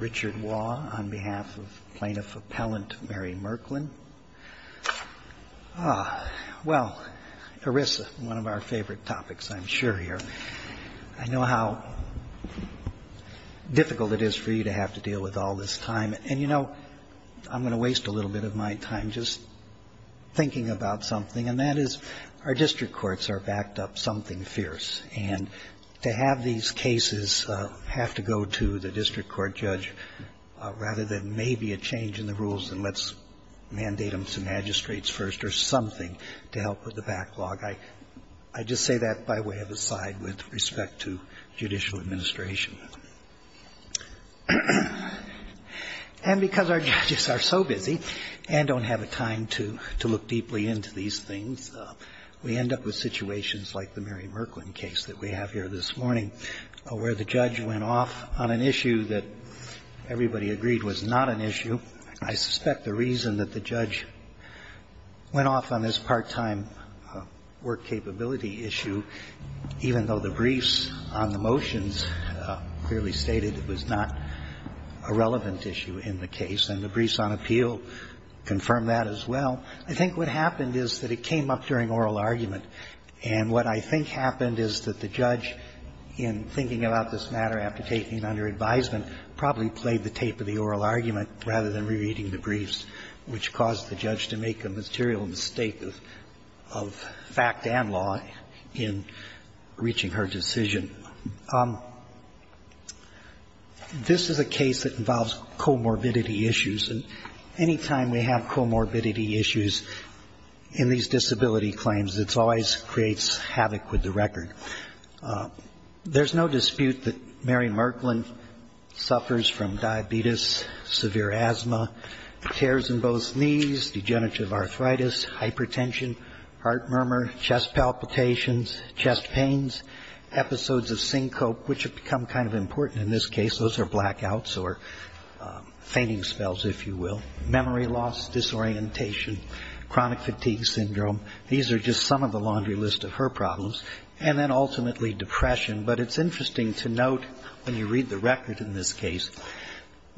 Richard Waugh on behalf of Plaintiff Appellant Mary Merklin. Ah, well, ERISA, one of our favorite topics, I'm sure, here. I know how difficult it is for you to have to deal with all this time. And, you know, I'm going to waste a little bit of my time just thinking about something, and that is our district courts are backed up something fierce. And to have these cases have to go to the district court judge rather than maybe a change in the rules and let's mandate them to magistrates first or something to help with the backlog, I just say that by way of aside with respect to judicial administration. And because our judges are so busy and don't have the time to look deeply into these things, we end up with situations like the Mary Merklin case that we have here this morning where the judge went off on an issue that everybody agreed was not an issue. I suspect the reason that the judge went off on this part-time work capability issue, even though the briefs on the motions clearly stated it was not a relevant issue in the case, and the briefs on appeal confirm that as well, I think what happened is that it came up during oral argument. And what I think happened is that the judge, in thinking about this matter after taking it under advisement, probably played the tape of the oral argument rather than re-reading the briefs, which caused the judge to make a material mistake of fact and law in reaching her decision. This is a case that involves comorbidity issues. And any time we have comorbidity issues in these disability claims, it always creates havoc with the record. There's no dispute that Mary Merklin suffers from diabetes, severe asthma, tears in both knees, degenerative arthritis, hypertension, heart murmur, chest palpitations, chest pains, episodes of syncope, which have become kind of important in this case. Those are blackouts or fainting spells, if you will, memory loss, disorientation, chronic fatigue syndrome. These are just some of the laundry list of her problems. And then ultimately depression. But it's interesting to note, when you read the record in this case,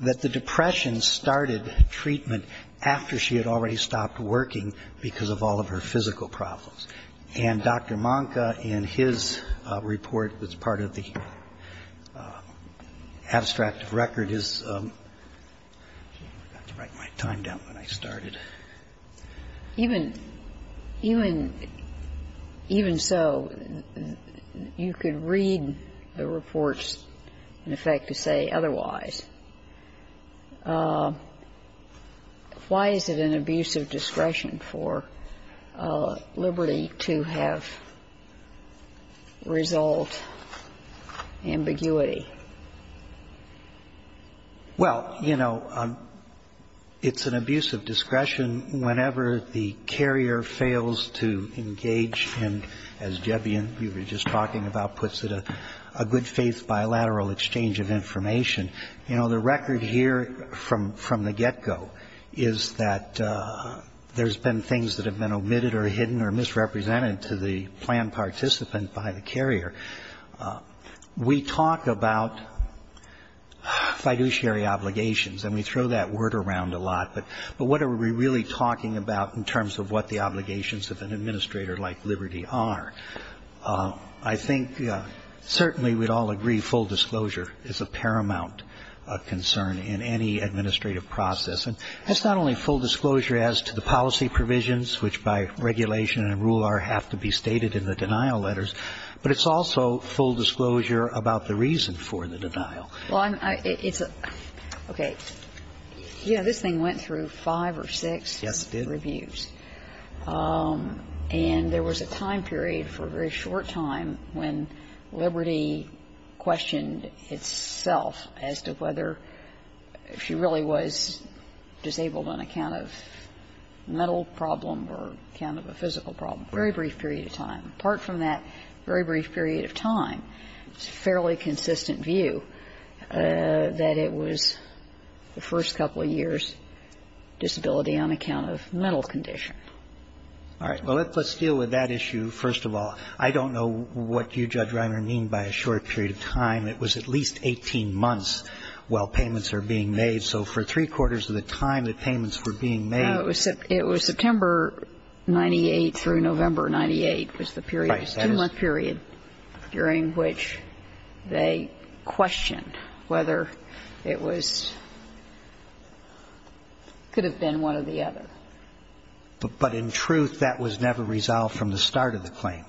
that the depression started treatment after she had already stopped working because of all of her physical problems. And Dr. Manka, in his report that's part of the abstract record, is – I forgot to write my time down when I started. Even so, you could read the reports, in effect, to say otherwise. And I think it's interesting to note that in this case, why is it an abuse of discretion for Liberty to have result ambiguity? Well, you know, it's an abuse of discretion whenever the carrier fails to engage in, as Jebian, you were just talking about, puts it, a good-faith bilateral exchange of information. You know, the record here from the get-go is that there's been things that have been omitted or hidden or misrepresented to the planned participant by the carrier. We talk about fiduciary obligations, and we throw that word around a lot. But what are we really talking about in terms of what the obligations of an administrator like Liberty are? I think certainly we'd all agree full disclosure is a paramount concern in any administrative process. And it's not only full disclosure as to the policy provisions, which by regulation and rule R have to be stated in the denial letters, but it's also full disclosure about the reason for the denial. Well, it's a – okay. You know, this thing went through five or six reviews. Yes, it did. And there was a time period for a very short time when Liberty questioned itself as to whether she really was disabled on account of a mental problem or account of a physical problem. Very brief period of time. Apart from that very brief period of time, it's a fairly consistent view. That it was the first couple of years, disability on account of mental condition. All right. Well, let's deal with that issue first of all. I don't know what you, Judge Reiner, mean by a short period of time. It was at least 18 months while payments are being made. So for three-quarters of the time that payments were being made. No, it was September 98 through November 98 was the period. Right. The 18-month period during which they questioned whether it was – could have been one or the other. But in truth, that was never resolved from the start of the claim.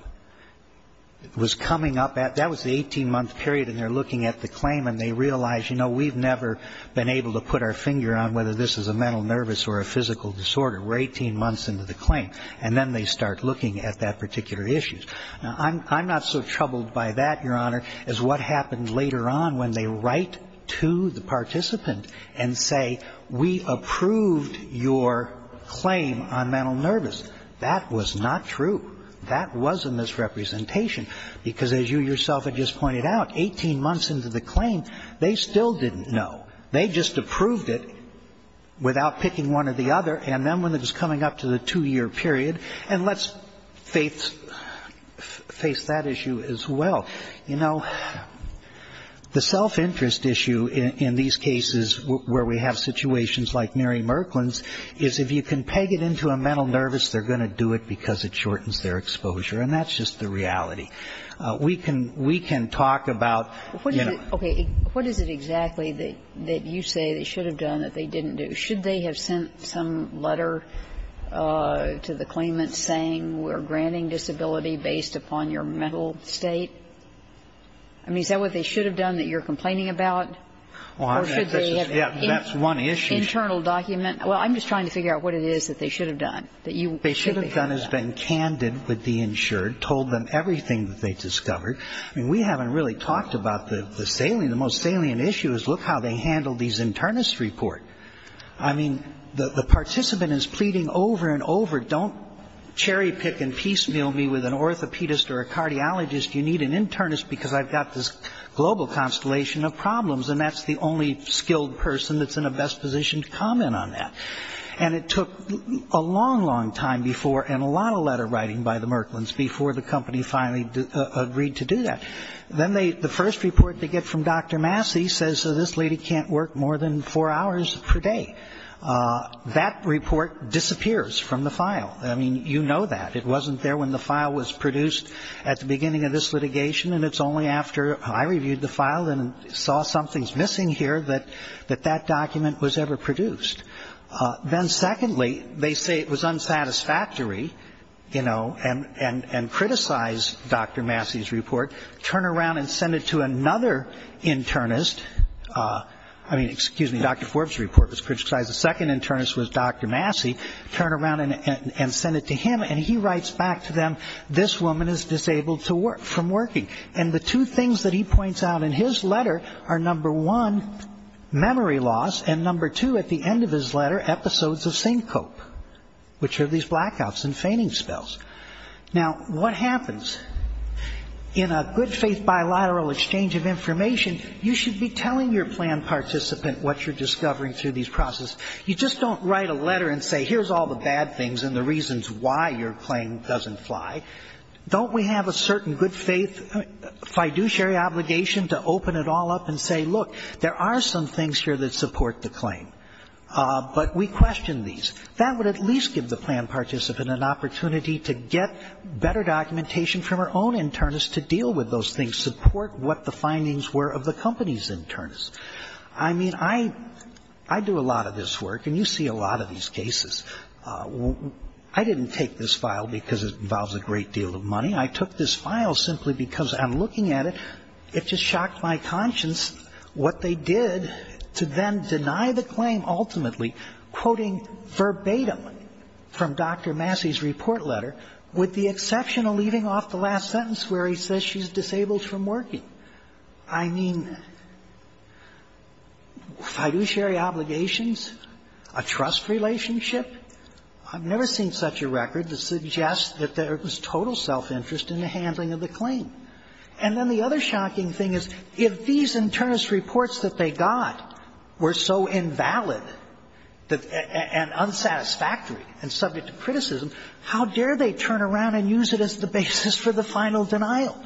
It was coming up at – that was the 18-month period, and they're looking at the claim and they realize, you know, we've never been able to put our finger on whether this is a mental nervous or a physical disorder. We're 18 months into the claim. And then they start looking at that particular issue. Now, I'm not so troubled by that, Your Honor, as what happened later on when they write to the participant and say, we approved your claim on mental nervous. That was not true. That wasn't this representation. Because as you yourself had just pointed out, 18 months into the claim, they still didn't know. They just approved it without picking one or the other. And then when it was coming up to the two-year period, and let's face that issue as well. You know, the self-interest issue in these cases where we have situations like Mary Merklin's is if you can peg it into a mental nervous, they're going to do it because it shortens their exposure. And that's just the reality. We can talk about, you know – Okay. What is it exactly that you say they should have done that they didn't do? Should they have sent some letter to the claimant saying we're granting disability based upon your mental state? I mean, is that what they should have done that you're complaining about? Or should they have – Yeah, that's one issue. Internal document. Well, I'm just trying to figure out what it is that they should have done that you – They should have done is been candid with the insured, told them everything that they discovered. I mean, we haven't really talked about the salient – the most salient issue is look how they handled these internist report. I mean, the participant is pleading over and over, don't cherry pick and piecemeal me with an orthopedist or a cardiologist. You need an internist because I've got this global constellation of problems, and that's the only skilled person that's in a best position to comment on that. And it took a long, long time before and a lot of letter writing by the Merklins before the company finally agreed to do that. Then they – the first report they get from Dr. Massey says, so this lady can't work more than four hours per day. That report disappears from the file. I mean, you know that. It wasn't there when the file was produced at the beginning of this litigation, and it's only after I reviewed the file and saw something's missing here that that document was ever produced. Then secondly, they say it was unsatisfactory, you know, and criticize Dr. Massey's report, turn around and send it to another internist. I mean, excuse me, Dr. Forbes' report was criticized. The second internist was Dr. Massey. Turn around and send it to him, and he writes back to them, this woman is disabled from working. And the two things that he points out in his letter are, number one, memory loss, and number two, at the end of his letter, episodes of Syncope, which are these blackouts and feigning spells. Now, what happens? In a good faith bilateral exchange of information, you should be telling your plan participant what you're discovering through these processes. You just don't write a letter and say, here's all the bad things and the reasons why your claim doesn't fly. Don't we have a certain good faith fiduciary obligation to open it all up and say, look, there are some things here that support the claim, but we question these. That would at least give the plan participant an opportunity to get better documentation from her own internist to deal with those things, support what the findings were of the company's internist. I mean, I do a lot of this work, and you see a lot of these cases. I didn't take this file because it involves a great deal of money. I took this file simply because I'm looking at it. It just shocked my conscience what they did to then deny the claim ultimately, quoting verbatim from Dr. Massey's report letter with the exception of leaving off the last sentence where he says she's disabled from working. I mean, fiduciary obligations, a trust relationship. I've never seen such a record that suggests that there was total self-interest in the handling of the claim. And then the other shocking thing is if these internist reports that they got were so invalid and unsatisfactory and subject to criticism, how dare they turn around and use it as the basis for the final denial?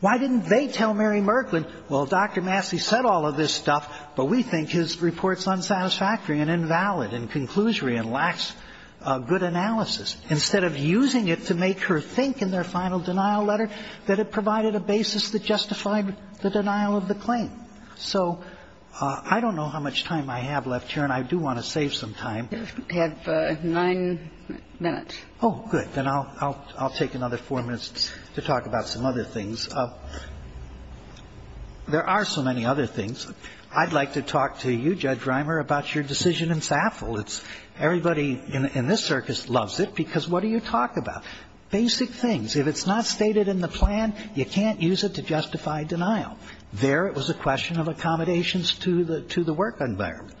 Why didn't they tell Mary Merklin, well, Dr. Massey said all of this stuff, but we think his report's unsatisfactory and invalid and conclusory and lacks good analysis, instead of using it to make her think in their final denial letter that it provided a basis that justified the denial of the claim? So I don't know how much time I have left here, and I do want to save some time. We have nine minutes. Oh, good. Then I'll take another four minutes to talk about some other things. There are so many other things. I'd like to talk to you, Judge Reimer, about your decision in SAFL. Everybody in this circus loves it, because what do you talk about? Basic things. If it's not stated in the plan, you can't use it to justify denial. There it was a question of accommodations to the work environment.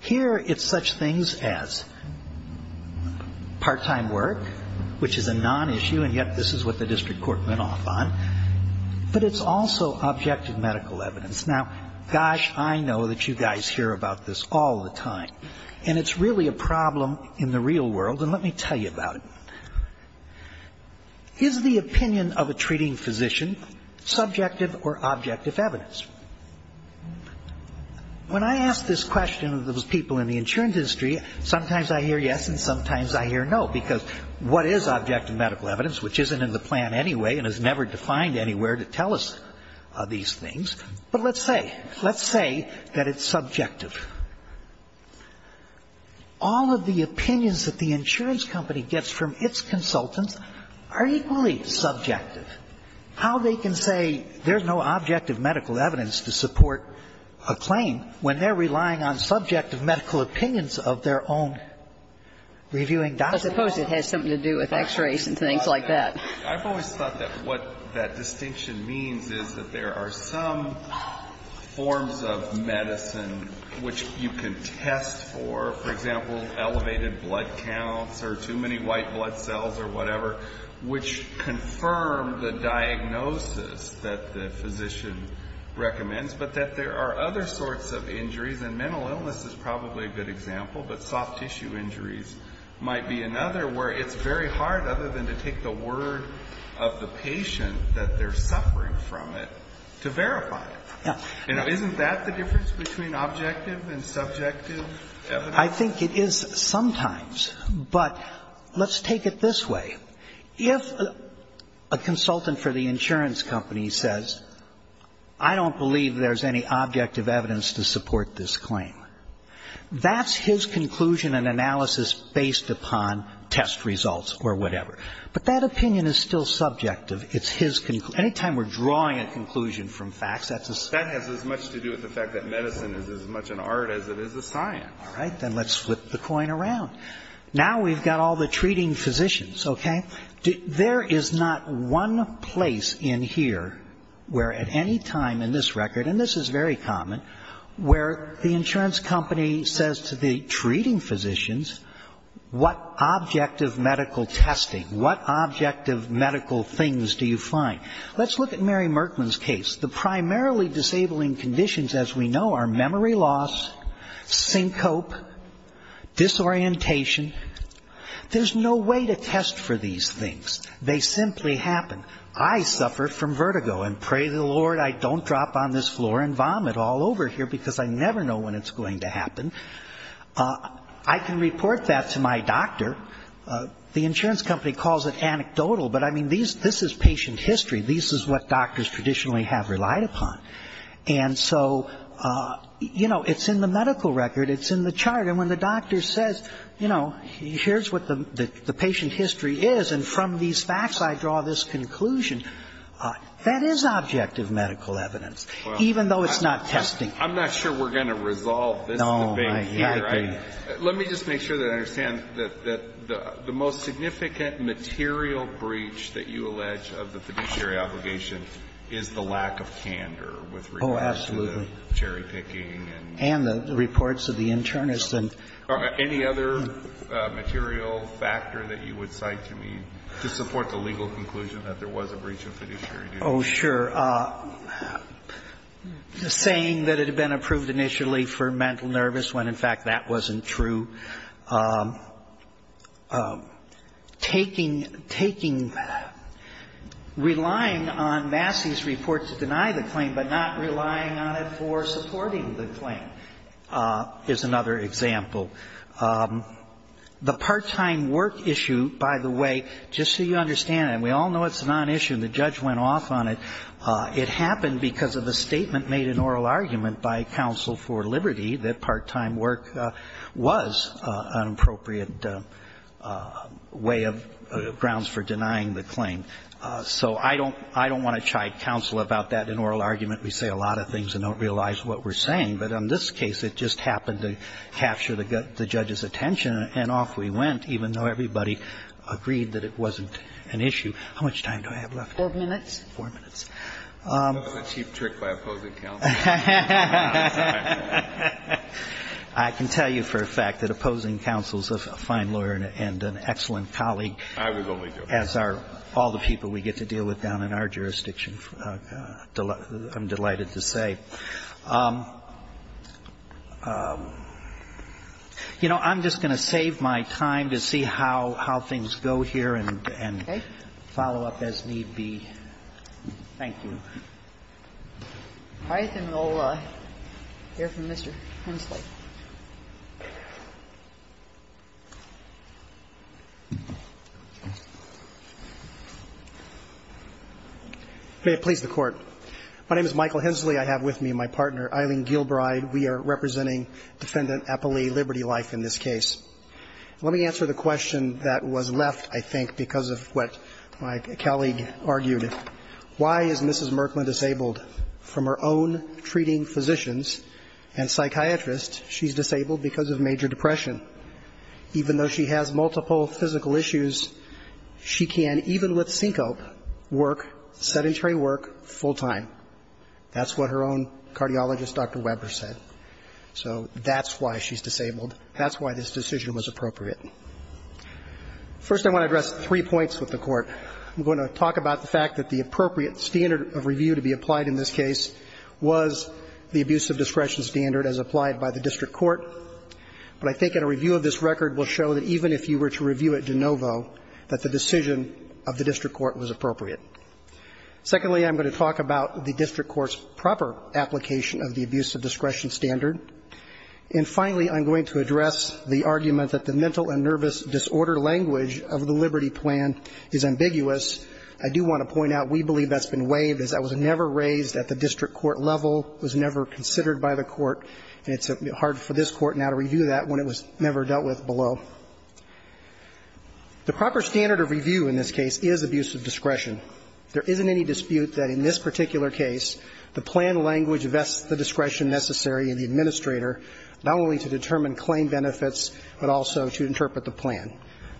Here it's such things as part-time work, which is a non-issue, and yet this is what the district court went off on. But it's also objective medical evidence. Now, gosh, I know that you guys hear about this all the time, and it's really a problem in the real world, and let me tell you about it. Is the opinion of a treating physician subjective or objective evidence? When I ask this question of those people in the insurance industry, sometimes I hear yes and sometimes I hear no, because what is objective medical evidence, which isn't in the plan anyway and is never defined anywhere to tell us these things? But let's say. Let's say that it's subjective. All of the opinions that the insurance company gets from its consultants are equally subjective. How they can say there's no objective medical evidence to support a claim when they're relying on subjective medical opinions of their own reviewing documents? I suppose it has something to do with X-rays and things like that. I've always thought that what that distinction means is that there are some forms of medicine which you can test for, for example, elevated blood counts or too many white blood cells or whatever, which confirm the diagnosis that the physician recommends, but that there are other sorts of injuries, and mental illness is probably a good example, but soft tissue injuries might be another where it's very hard, other than to take the word of the patient that they're suffering from it, to verify it. Isn't that the difference between objective and subjective evidence? I think it is sometimes. But let's take it this way. If a consultant for the insurance company says, I don't believe there's any objective evidence to support this claim, that's his conclusion and analysis based upon test results or whatever. But that opinion is still subjective. It's his conclusion. Again, we're drawing a conclusion from facts. That's a science. That has as much to do with the fact that medicine is as much an art as it is a science. All right. Then let's flip the coin around. Now we've got all the treating physicians. Okay? There is not one place in here where at any time in this record, and this is very common, where the insurance company says to the treating physicians, what objective medical testing, what objective medical things do you find? Let's look at Mary Merkman's case. The primarily disabling conditions, as we know, are memory loss, syncope, disorientation. There's no way to test for these things. They simply happen. I suffer from vertigo, and pray the Lord I don't drop on this floor and vomit all over here, because I never know when it's going to happen. I can report that to my doctor. The insurance company calls it anecdotal. But, I mean, this is patient history. This is what doctors traditionally have relied upon. And so, you know, it's in the medical record. It's in the chart. And when the doctor says, you know, here's what the patient history is, and from these facts I draw this conclusion, that is objective medical evidence, even though it's not testing. I'm not sure we're going to resolve this debate here. No, I agree. Let me just make sure that I understand that the most significant material breach that you allege of the fiduciary obligation is the lack of candor with regard to the cherry-picking and the reports of the internist. Any other material factor that you would cite to me to support the legal conclusion that there was a breach of fiduciary duty? Oh, sure. Sure. Saying that it had been approved initially for mental nervous when, in fact, that wasn't true. Taking, taking, relying on Massey's report to deny the claim, but not relying on it for supporting the claim is another example. The part-time work issue, by the way, just so you understand, and we all know it's been off on it, it happened because of a statement made in oral argument by counsel for liberty that part-time work was an appropriate way of grounds for denying the claim. So I don't want to chide counsel about that in oral argument. We say a lot of things and don't realize what we're saying. But in this case, it just happened to capture the judge's attention, and off we went, even though everybody agreed that it wasn't an issue. How much time do I have left? Four minutes. Four minutes. That was a cheap trick by opposing counsel. I can tell you for a fact that opposing counsel is a fine lawyer and an excellent colleague. I was only joking. As are all the people we get to deal with down in our jurisdiction. I'm delighted to say. You know, I'm just going to save my time to see how things go here and follow up as need be. Thank you. All right. Then we'll hear from Mr. Hensley. May it please the Court. My name is Michael Hensley. I have with me my partner, Eileen Gilbride. We are representing Defendant Applee, Liberty Life, in this case. Let me answer the question that was left, I think, because of what my colleague argued. Why is Mrs. Merklin disabled? From her own treating physicians and psychiatrists, she's disabled because of major depression. Even though she has multiple physical issues, she can, even with syncope, work sedentary work full time. That's what her own cardiologist, Dr. Weber, said. So that's why she's disabled. That's why this decision was appropriate. First, I want to address three points with the Court. I'm going to talk about the fact that the appropriate standard of review to be applied in this case was the abuse of discretion standard as applied by the district court. But I think a review of this record will show that even if you were to review it de novo, that the decision of the district court was appropriate. Secondly, I'm going to talk about the district court's proper application of the abuse of discretion standard. And finally, I'm going to address the argument that the mental and nervous disorder language of the Liberty Plan is ambiguous. I do want to point out, we believe that's been waived, as that was never raised at the district court level, was never considered by the court, and it's hard for this Court now to review that when it was never dealt with below. The proper standard of review in this case is abuse of discretion. There isn't any dispute that in this particular case, the plan language vests the not only to determine claim benefits, but also to interpret the plan.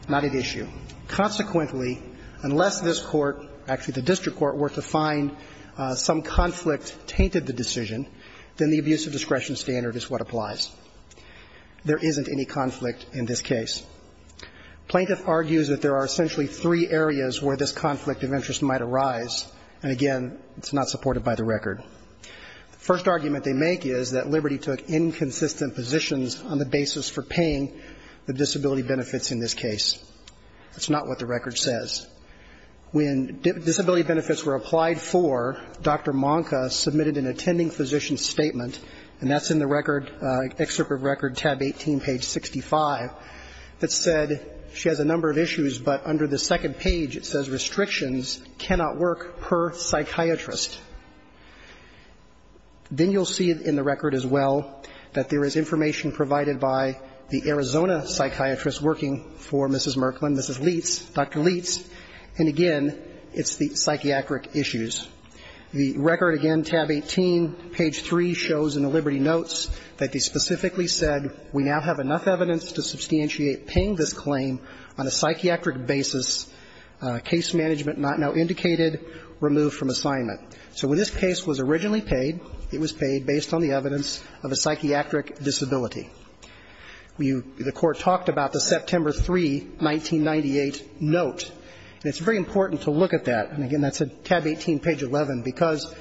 Not at issue. Consequently, unless this Court, actually the district court, were to find some conflict tainted the decision, then the abuse of discretion standard is what applies. There isn't any conflict in this case. Plaintiff argues that there are essentially three areas where this conflict of interest might arise, and again, it's not supported by the record. The first argument they make is that Liberty took inconsistent positions on the basis for paying the disability benefits in this case. That's not what the record says. When disability benefits were applied for, Dr. Manka submitted an attending physician statement, and that's in the record, Excerpt of Record, tab 18, page 65, that said she has a number of issues, but under the second page it says, Then you'll see in the record as well that there is information provided by the Arizona psychiatrist working for Mrs. Merklin, Mrs. Leitz, Dr. Leitz, and again, it's the psychiatric issues. The record again, tab 18, page 3, shows in the Liberty notes that they specifically said we now have enough evidence to substantiate paying this claim on a psychiatric basis, case management not now indicated, removed from assignment. So when this case was originally paid, it was paid based on the evidence of a psychiatric disability. The Court talked about the September 3, 1998 note, and it's very important to look at that, and again, that's tab 18, page 11, because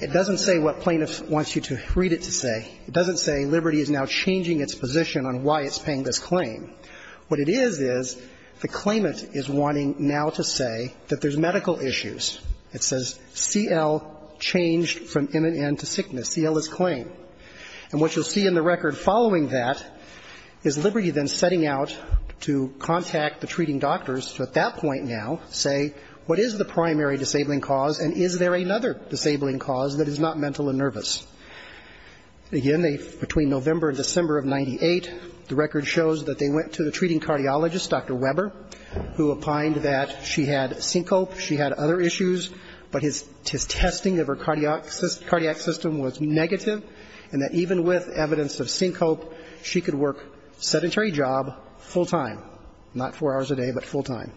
it doesn't say what plaintiff wants you to read it to say. It doesn't say Liberty is now changing its position on why it's paying this claim. What it is is the claimant is wanting now to say that there's medical issues. It says CL changed from M&N to sickness. CL is claim. And what you'll see in the record following that is Liberty then setting out to contact the treating doctors to at that point now say what is the primary disabling cause and is there another disabling cause that is not mental and nervous. Again, between November and December of 1998, the record shows that they went to the treating cardiologist, Dr. Weber, who opined that she had syncope, she had other issues, but his testing of her cardiac system was negative and that even with evidence of syncope, she could work sedentary job full time, not four hours a day, but full time.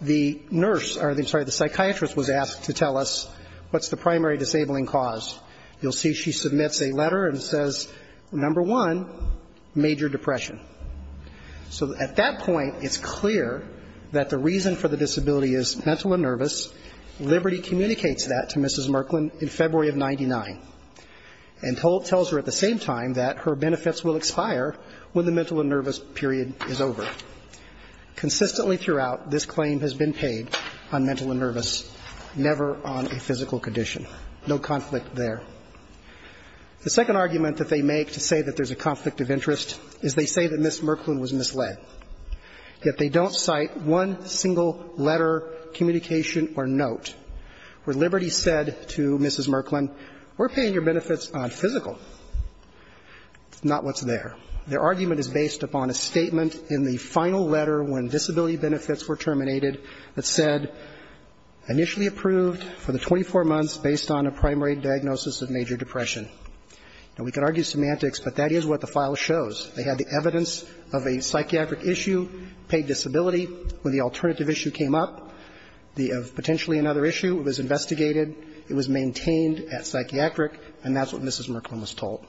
The nurse or the psychiatrist was asked to tell us what's the primary disabling cause. You'll see she submits a letter and says, number one, major depression. So at that point, it's clear that the reason for the disability is mental and nervous. Liberty communicates that to Mrs. Merklin in February of 99 and tells her at the same time that her benefits will expire when the mental and nervous period is over. Consistently throughout, this claim has been paid on mental and nervous, never on a physical condition. No conflict there. The second argument that they make to say that there's a conflict of interest is they say that Mrs. Merklin was misled, yet they don't cite one single letter, communication or note where Liberty said to Mrs. Merklin, we're paying your benefits on physical. It's not what's there. Their argument is based upon a statement in the final letter when disability benefits were terminated that said initially approved for the 24 months based on a primary diagnosis of major depression. Now, we could argue semantics, but that is what the file shows. They had the evidence of a psychiatric issue, paid disability. When the alternative issue came up, the potentially another issue, it was investigated, it was maintained at psychiatric, and that's what Mrs. Merklin was told.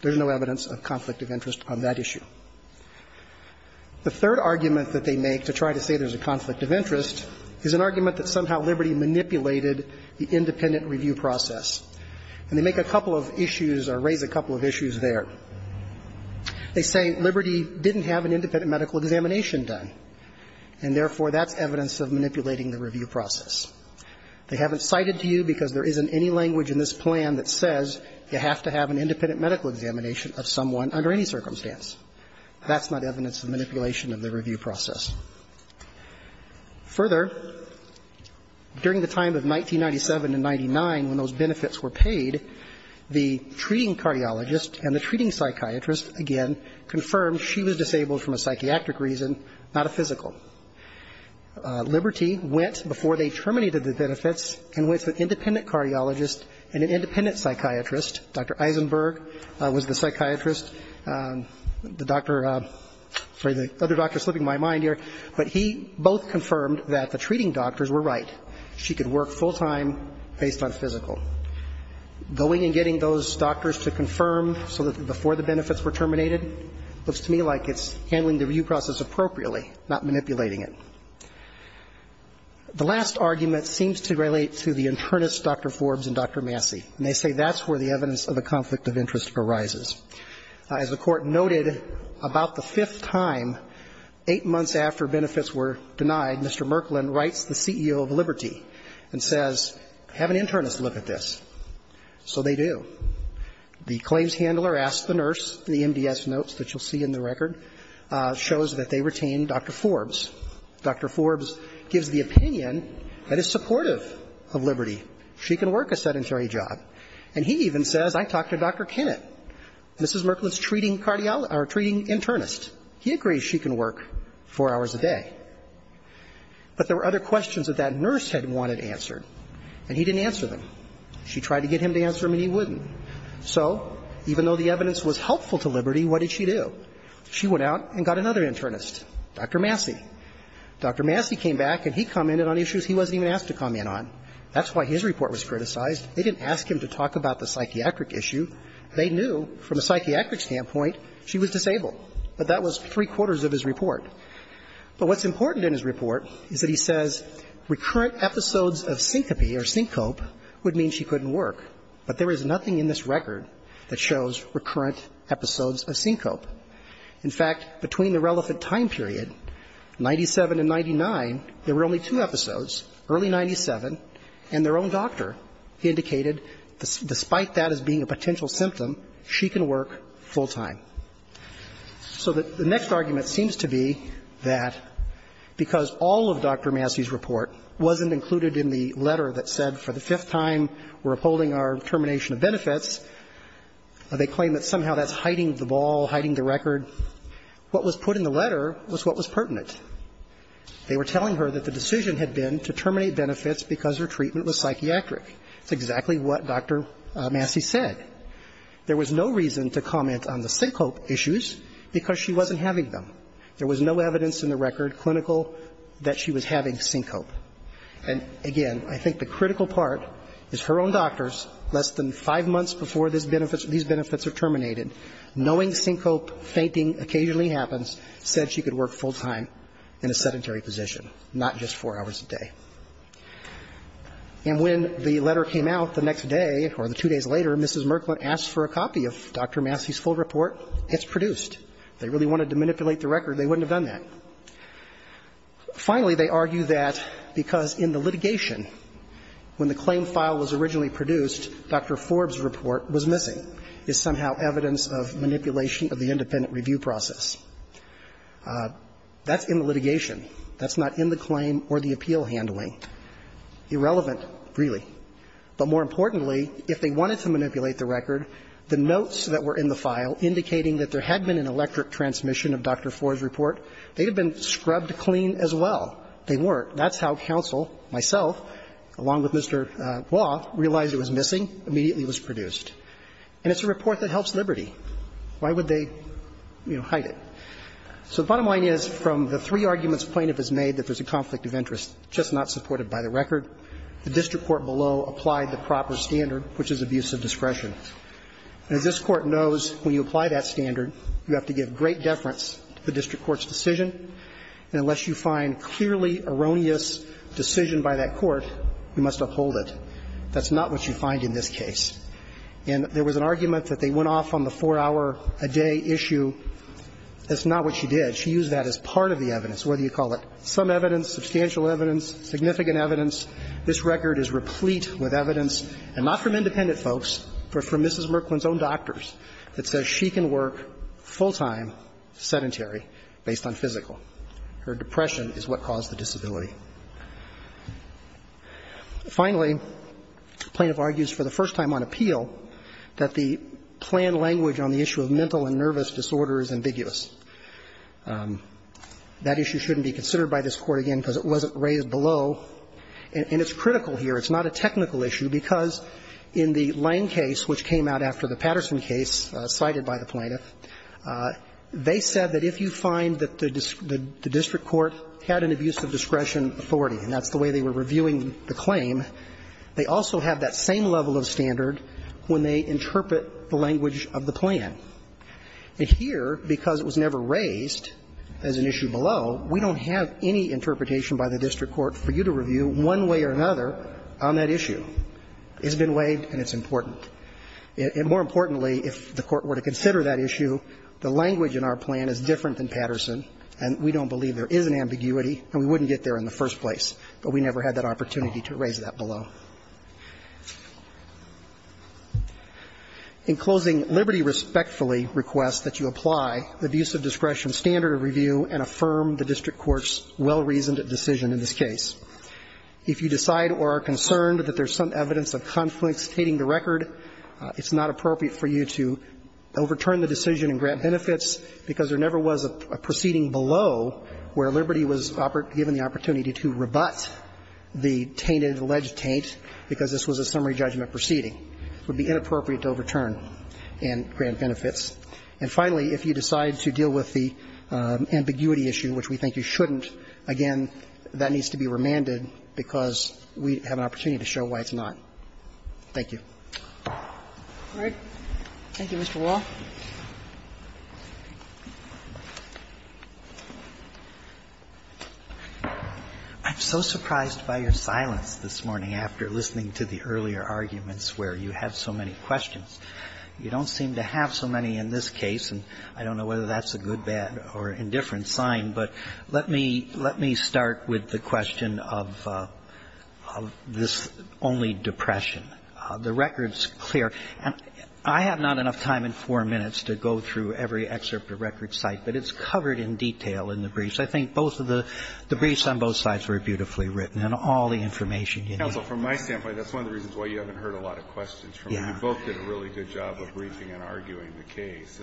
There's no evidence of conflict of interest on that issue. The third argument that they make to try to say there's a conflict of interest is an argument that somehow Liberty manipulated the independent review process. And they make a couple of issues or raise a couple of issues there. They say Liberty didn't have an independent medical examination done, and therefore that's evidence of manipulating the review process. They haven't cited to you because there isn't any language in this plan that says you have to have an independent medical examination of someone under any circumstance. That's not evidence of manipulation of the review process. Further, during the time of 1997 to 1999 when those benefits were paid, the treating cardiologist and the treating psychiatrist, again, confirmed she was disabled from a psychiatric reason, not a physical. Liberty went before they terminated the benefits and went to an independent cardiologist and an independent psychiatrist. Dr. Eisenberg was the psychiatrist, the doctor – sorry, the other doctor is slipping my mind here. But he both confirmed that the treating doctors were right. She could work full time based on physical. Going and getting those doctors to confirm so that before the benefits were terminated looks to me like it's handling the review process appropriately, not manipulating it. The last argument seems to relate to the internist Dr. Forbes and Dr. Massey. And they say that's where the evidence of the conflict of interest arises. As the Court noted, about the fifth time, eight months after benefits were denied, Mr. Merklin writes the CEO of Liberty and says, have an internist look at this. So they do. The claims handler asks the nurse, the MDS notes that you'll see in the record, shows that they retain Dr. Forbes. Dr. Forbes gives the opinion that is supportive of Liberty. She can work a sedentary job. And he even says, I talked to Dr. Kennett, Mrs. Merklin's treating cardiologist or treating internist. He agrees she can work four hours a day. But there were other questions that that nurse had wanted answered, and he didn't answer them. She tried to get him to answer them and he wouldn't. So even though the evidence was helpful to Liberty, what did she do? She went out and got another internist, Dr. Massey. Dr. Massey came back and he commented on issues he wasn't even asked to comment on. That's why his report was criticized. They didn't ask him to talk about the psychiatric issue. They knew from a psychiatric standpoint she was disabled. But that was three-quarters of his report. But what's important in his report is that he says recurrent episodes of syncope would mean she couldn't work. But there is nothing in this record that shows recurrent episodes of syncope. In fact, between the relevant time period, 97 and 99, there were only two episodes, early 97, and their own doctor indicated despite that as being a potential symptom, she can work full time. So the next argument seems to be that because all of Dr. Massey's report wasn't included in the letter that said for the fifth time we're upholding our determination of benefits, they claim that somehow that's hiding the ball, hiding the record. What was put in the letter was what was pertinent. They were telling her that the decision had been to terminate benefits because her treatment was psychiatric. That's exactly what Dr. Massey said. There was no reason to comment on the syncope issues because she wasn't having them. There was no evidence in the record, clinical, that she was having syncope. And, again, I think the critical part is her own doctors, less than five months before these benefits are terminated, knowing syncope fainting occasionally happens, said she could work full time in a sedentary position, not just four hours a day. And when the letter came out the next day or the two days later, Mrs. Merklin asked for a copy of Dr. Massey's full report. It's produced. If they really wanted to manipulate the record, they wouldn't have done that. Finally, they argue that because in the litigation, when the claim file was originally produced, Dr. Forbes' report was missing. It's somehow evidence of manipulation of the independent review process. That's in the litigation. That's not in the claim or the appeal handling. Irrelevant, really. But more importantly, if they wanted to manipulate the record, the notes that were in the file indicating that there had been an electric transmission of Dr. Forbes' report, they'd have been scrubbed clean as well. They weren't. That's how counsel, myself, along with Mr. Waugh, realized it was missing, immediately was produced. And it's a report that helps liberty. Why would they, you know, hide it? So the bottom line is, from the three arguments plaintiff has made that there's a conflict of interest, just not supported by the record, the district court below applied the proper standard, which is abuse of discretion. And as this Court knows, when you apply that standard, you have to give great deference to the district court's decision. And unless you find clearly erroneous decision by that court, you must uphold That's not what you find in this case. And there was an argument that they went off on the four-hour-a-day issue. That's not what she did. She used that as part of the evidence, whether you call it some evidence, substantial evidence, significant evidence. This record is replete with evidence, and not from independent folks, but from Mrs. Merklin's own doctors, that says she can work full-time sedentary based on physical. Her depression is what caused the disability. Finally, the plaintiff argues for the first time on appeal that the planned language on the issue of mental and nervous disorder is ambiguous. That issue shouldn't be considered by this Court again because it wasn't raised below, and it's critical here. It's not a technical issue, because in the Lange case, which came out after the Patterson case cited by the plaintiff, they said that if you find that the district court had an abuse of discretion authority, and that's the way they were reviewing the claim, they also have that same level of standard when they interpret the language of the plan. And here, because it was never raised as an issue below, we don't have any interpretation by the district court for you to review one way or another on that issue. It's been waived, and it's important. And more importantly, if the Court were to consider that issue, the language in our plan is different than Patterson, and we don't believe there is an ambiguity, and we wouldn't get there in the first place. But we never had that opportunity to raise that below. In closing, Liberty respectfully requests that you apply the abuse of discretion standard of review and affirm the district court's well-reasoned decision in this case. If you decide or are concerned that there's some evidence of conflicts hating the record, it's not appropriate for you to overturn the decision in grant benefits because there never was a proceeding below where Liberty was given the opportunity to rebut the tainted alleged taint because this was a summary judgment proceeding. It would be inappropriate to overturn in grant benefits. And finally, if you decide to deal with the ambiguity issue, which we think you shouldn't, again, that needs to be remanded because we have an opportunity to show why it's not. Thank you. All right. Thank you, Mr. Wall. I'm so surprised by your silence this morning after listening to the earlier arguments where you have so many questions. You don't seem to have so many in this case, and I don't know whether that's a good, bad or indifferent sign, but let me start with the question of this only depression. The record's clear, and I have not enough time in four minutes to go through every excerpt of record site, but it's covered in detail in the briefs. I think both of the briefs on both sides were beautifully written and all the information you need. Counsel, from my standpoint, that's one of the reasons why you haven't heard a lot of questions from me. You both did a really good job of briefing and arguing the case.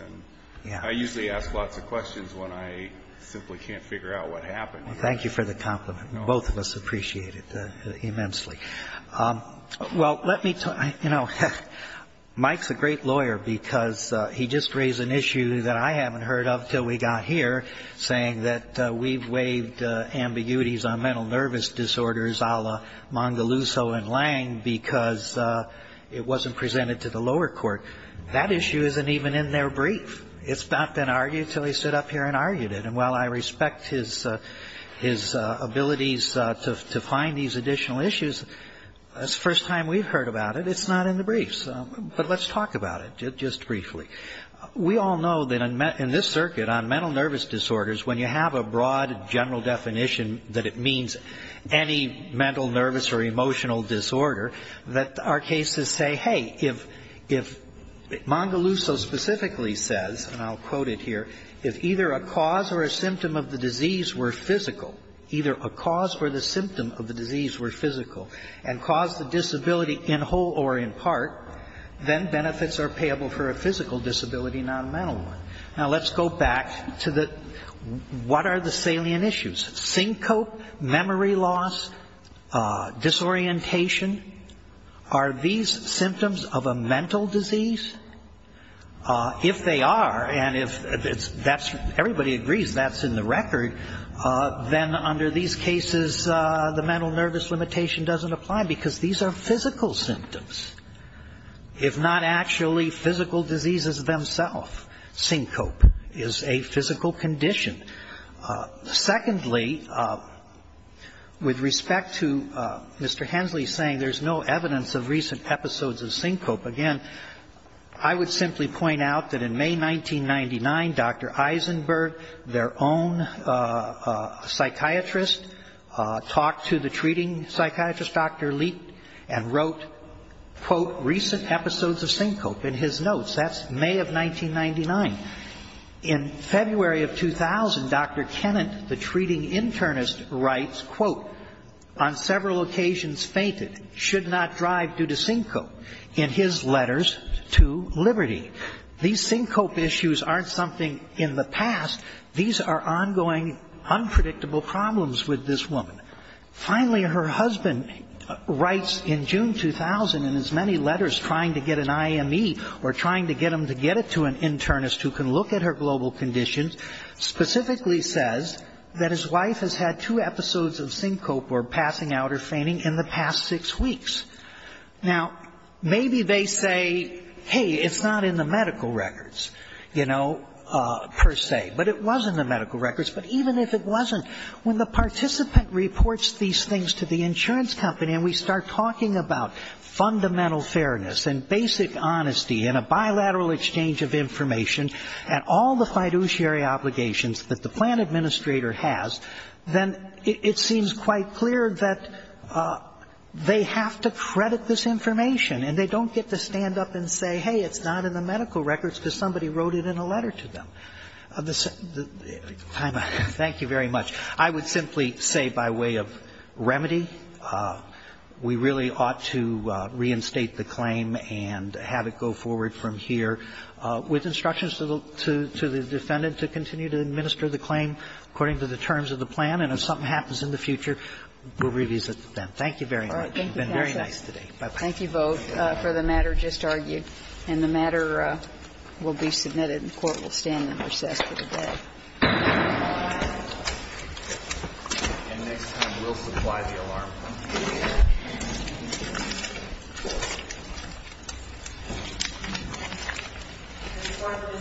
And I usually ask lots of questions when I simply can't figure out what happened. Thank you for the compliment. Both of us appreciate it immensely. Well, let me tell you, you know, Mike's a great lawyer because he just raised an issue that I haven't heard of until we got here, saying that we've waived ambiguities on mental nervous disorders a la Mangaluso and Lang because it wasn't presented to the lower court. That issue isn't even in their brief. It's not been argued until he stood up here and argued it. And while I respect his abilities to find these additional issues, it's the first time we've heard about it. It's not in the briefs. But let's talk about it just briefly. We all know that in this circuit on mental nervous disorders, when you have a broad, general definition that it means any mental, nervous, or emotional disorder, that our cases say, hey, if Mangaluso specifically says, and I'll quote it here, if either a cause or symptom of the disease were physical, either a cause or the symptom of the disease were physical, and caused the disability in whole or in part, then benefits are payable for a physical disability, not a mental one. Now, let's go back to the, what are the salient issues? Syncope, memory loss, disorientation. Are these symptoms of a mental disease? If they are, and if that's, everybody agrees that's in the record, then under these cases, the mental nervous limitation doesn't apply, because these are physical symptoms, if not actually physical diseases themselves. Syncope is a physical condition. Secondly, with respect to Mr. Hensley saying there's no evidence of recent episodes of syncope, again, I would simply point out that in May 1999, Dr. Eisenberg, their own psychiatrist, talked to the treating psychiatrist, Dr. Leet, and wrote, quote, recent episodes of syncope in his notes. That's May of 1999. In February of 2000, Dr. Kennett, the treating internist, writes, quote, on several occasions fainted, should not drive due to syncope, in his letters to Liberty. These syncope issues aren't something in the past. These are ongoing, unpredictable problems with this woman. Finally, her husband writes in June 2000, in as many letters, trying to get an IME, or trying to get him to get it to an internist who can look at her global conditions, specifically says that his wife has had two episodes of syncope or passing out or fainting in the past six weeks. Now, maybe they say, hey, it's not in the medical records, you know, per se. But it was in the medical records. But even if it wasn't, when the participant reports these things to the insurance company and we start talking about fundamental fairness and basic honesty and a bilateral exchange of information and all the fiduciary obligations that the plan administrator has, then it seems quite clear that they have to credit this information. And they don't get to stand up and say, hey, it's not in the medical records because somebody wrote it in a letter to them. Thank you very much. I would simply say by way of remedy, we really ought to reinstate the claim and have it go forward from here with instructions to the defendant to continue to administer the claim according to the terms of the plan. And if something happens in the future, we'll revisit it then. Thank you very much. You've been very nice today. Bye-bye. Thank you, both, for the matter just argued. And the matter will be submitted and the Court will stand in recess for the day. Bye-bye. And next time we'll supply the alarm. The Court will stand and hear.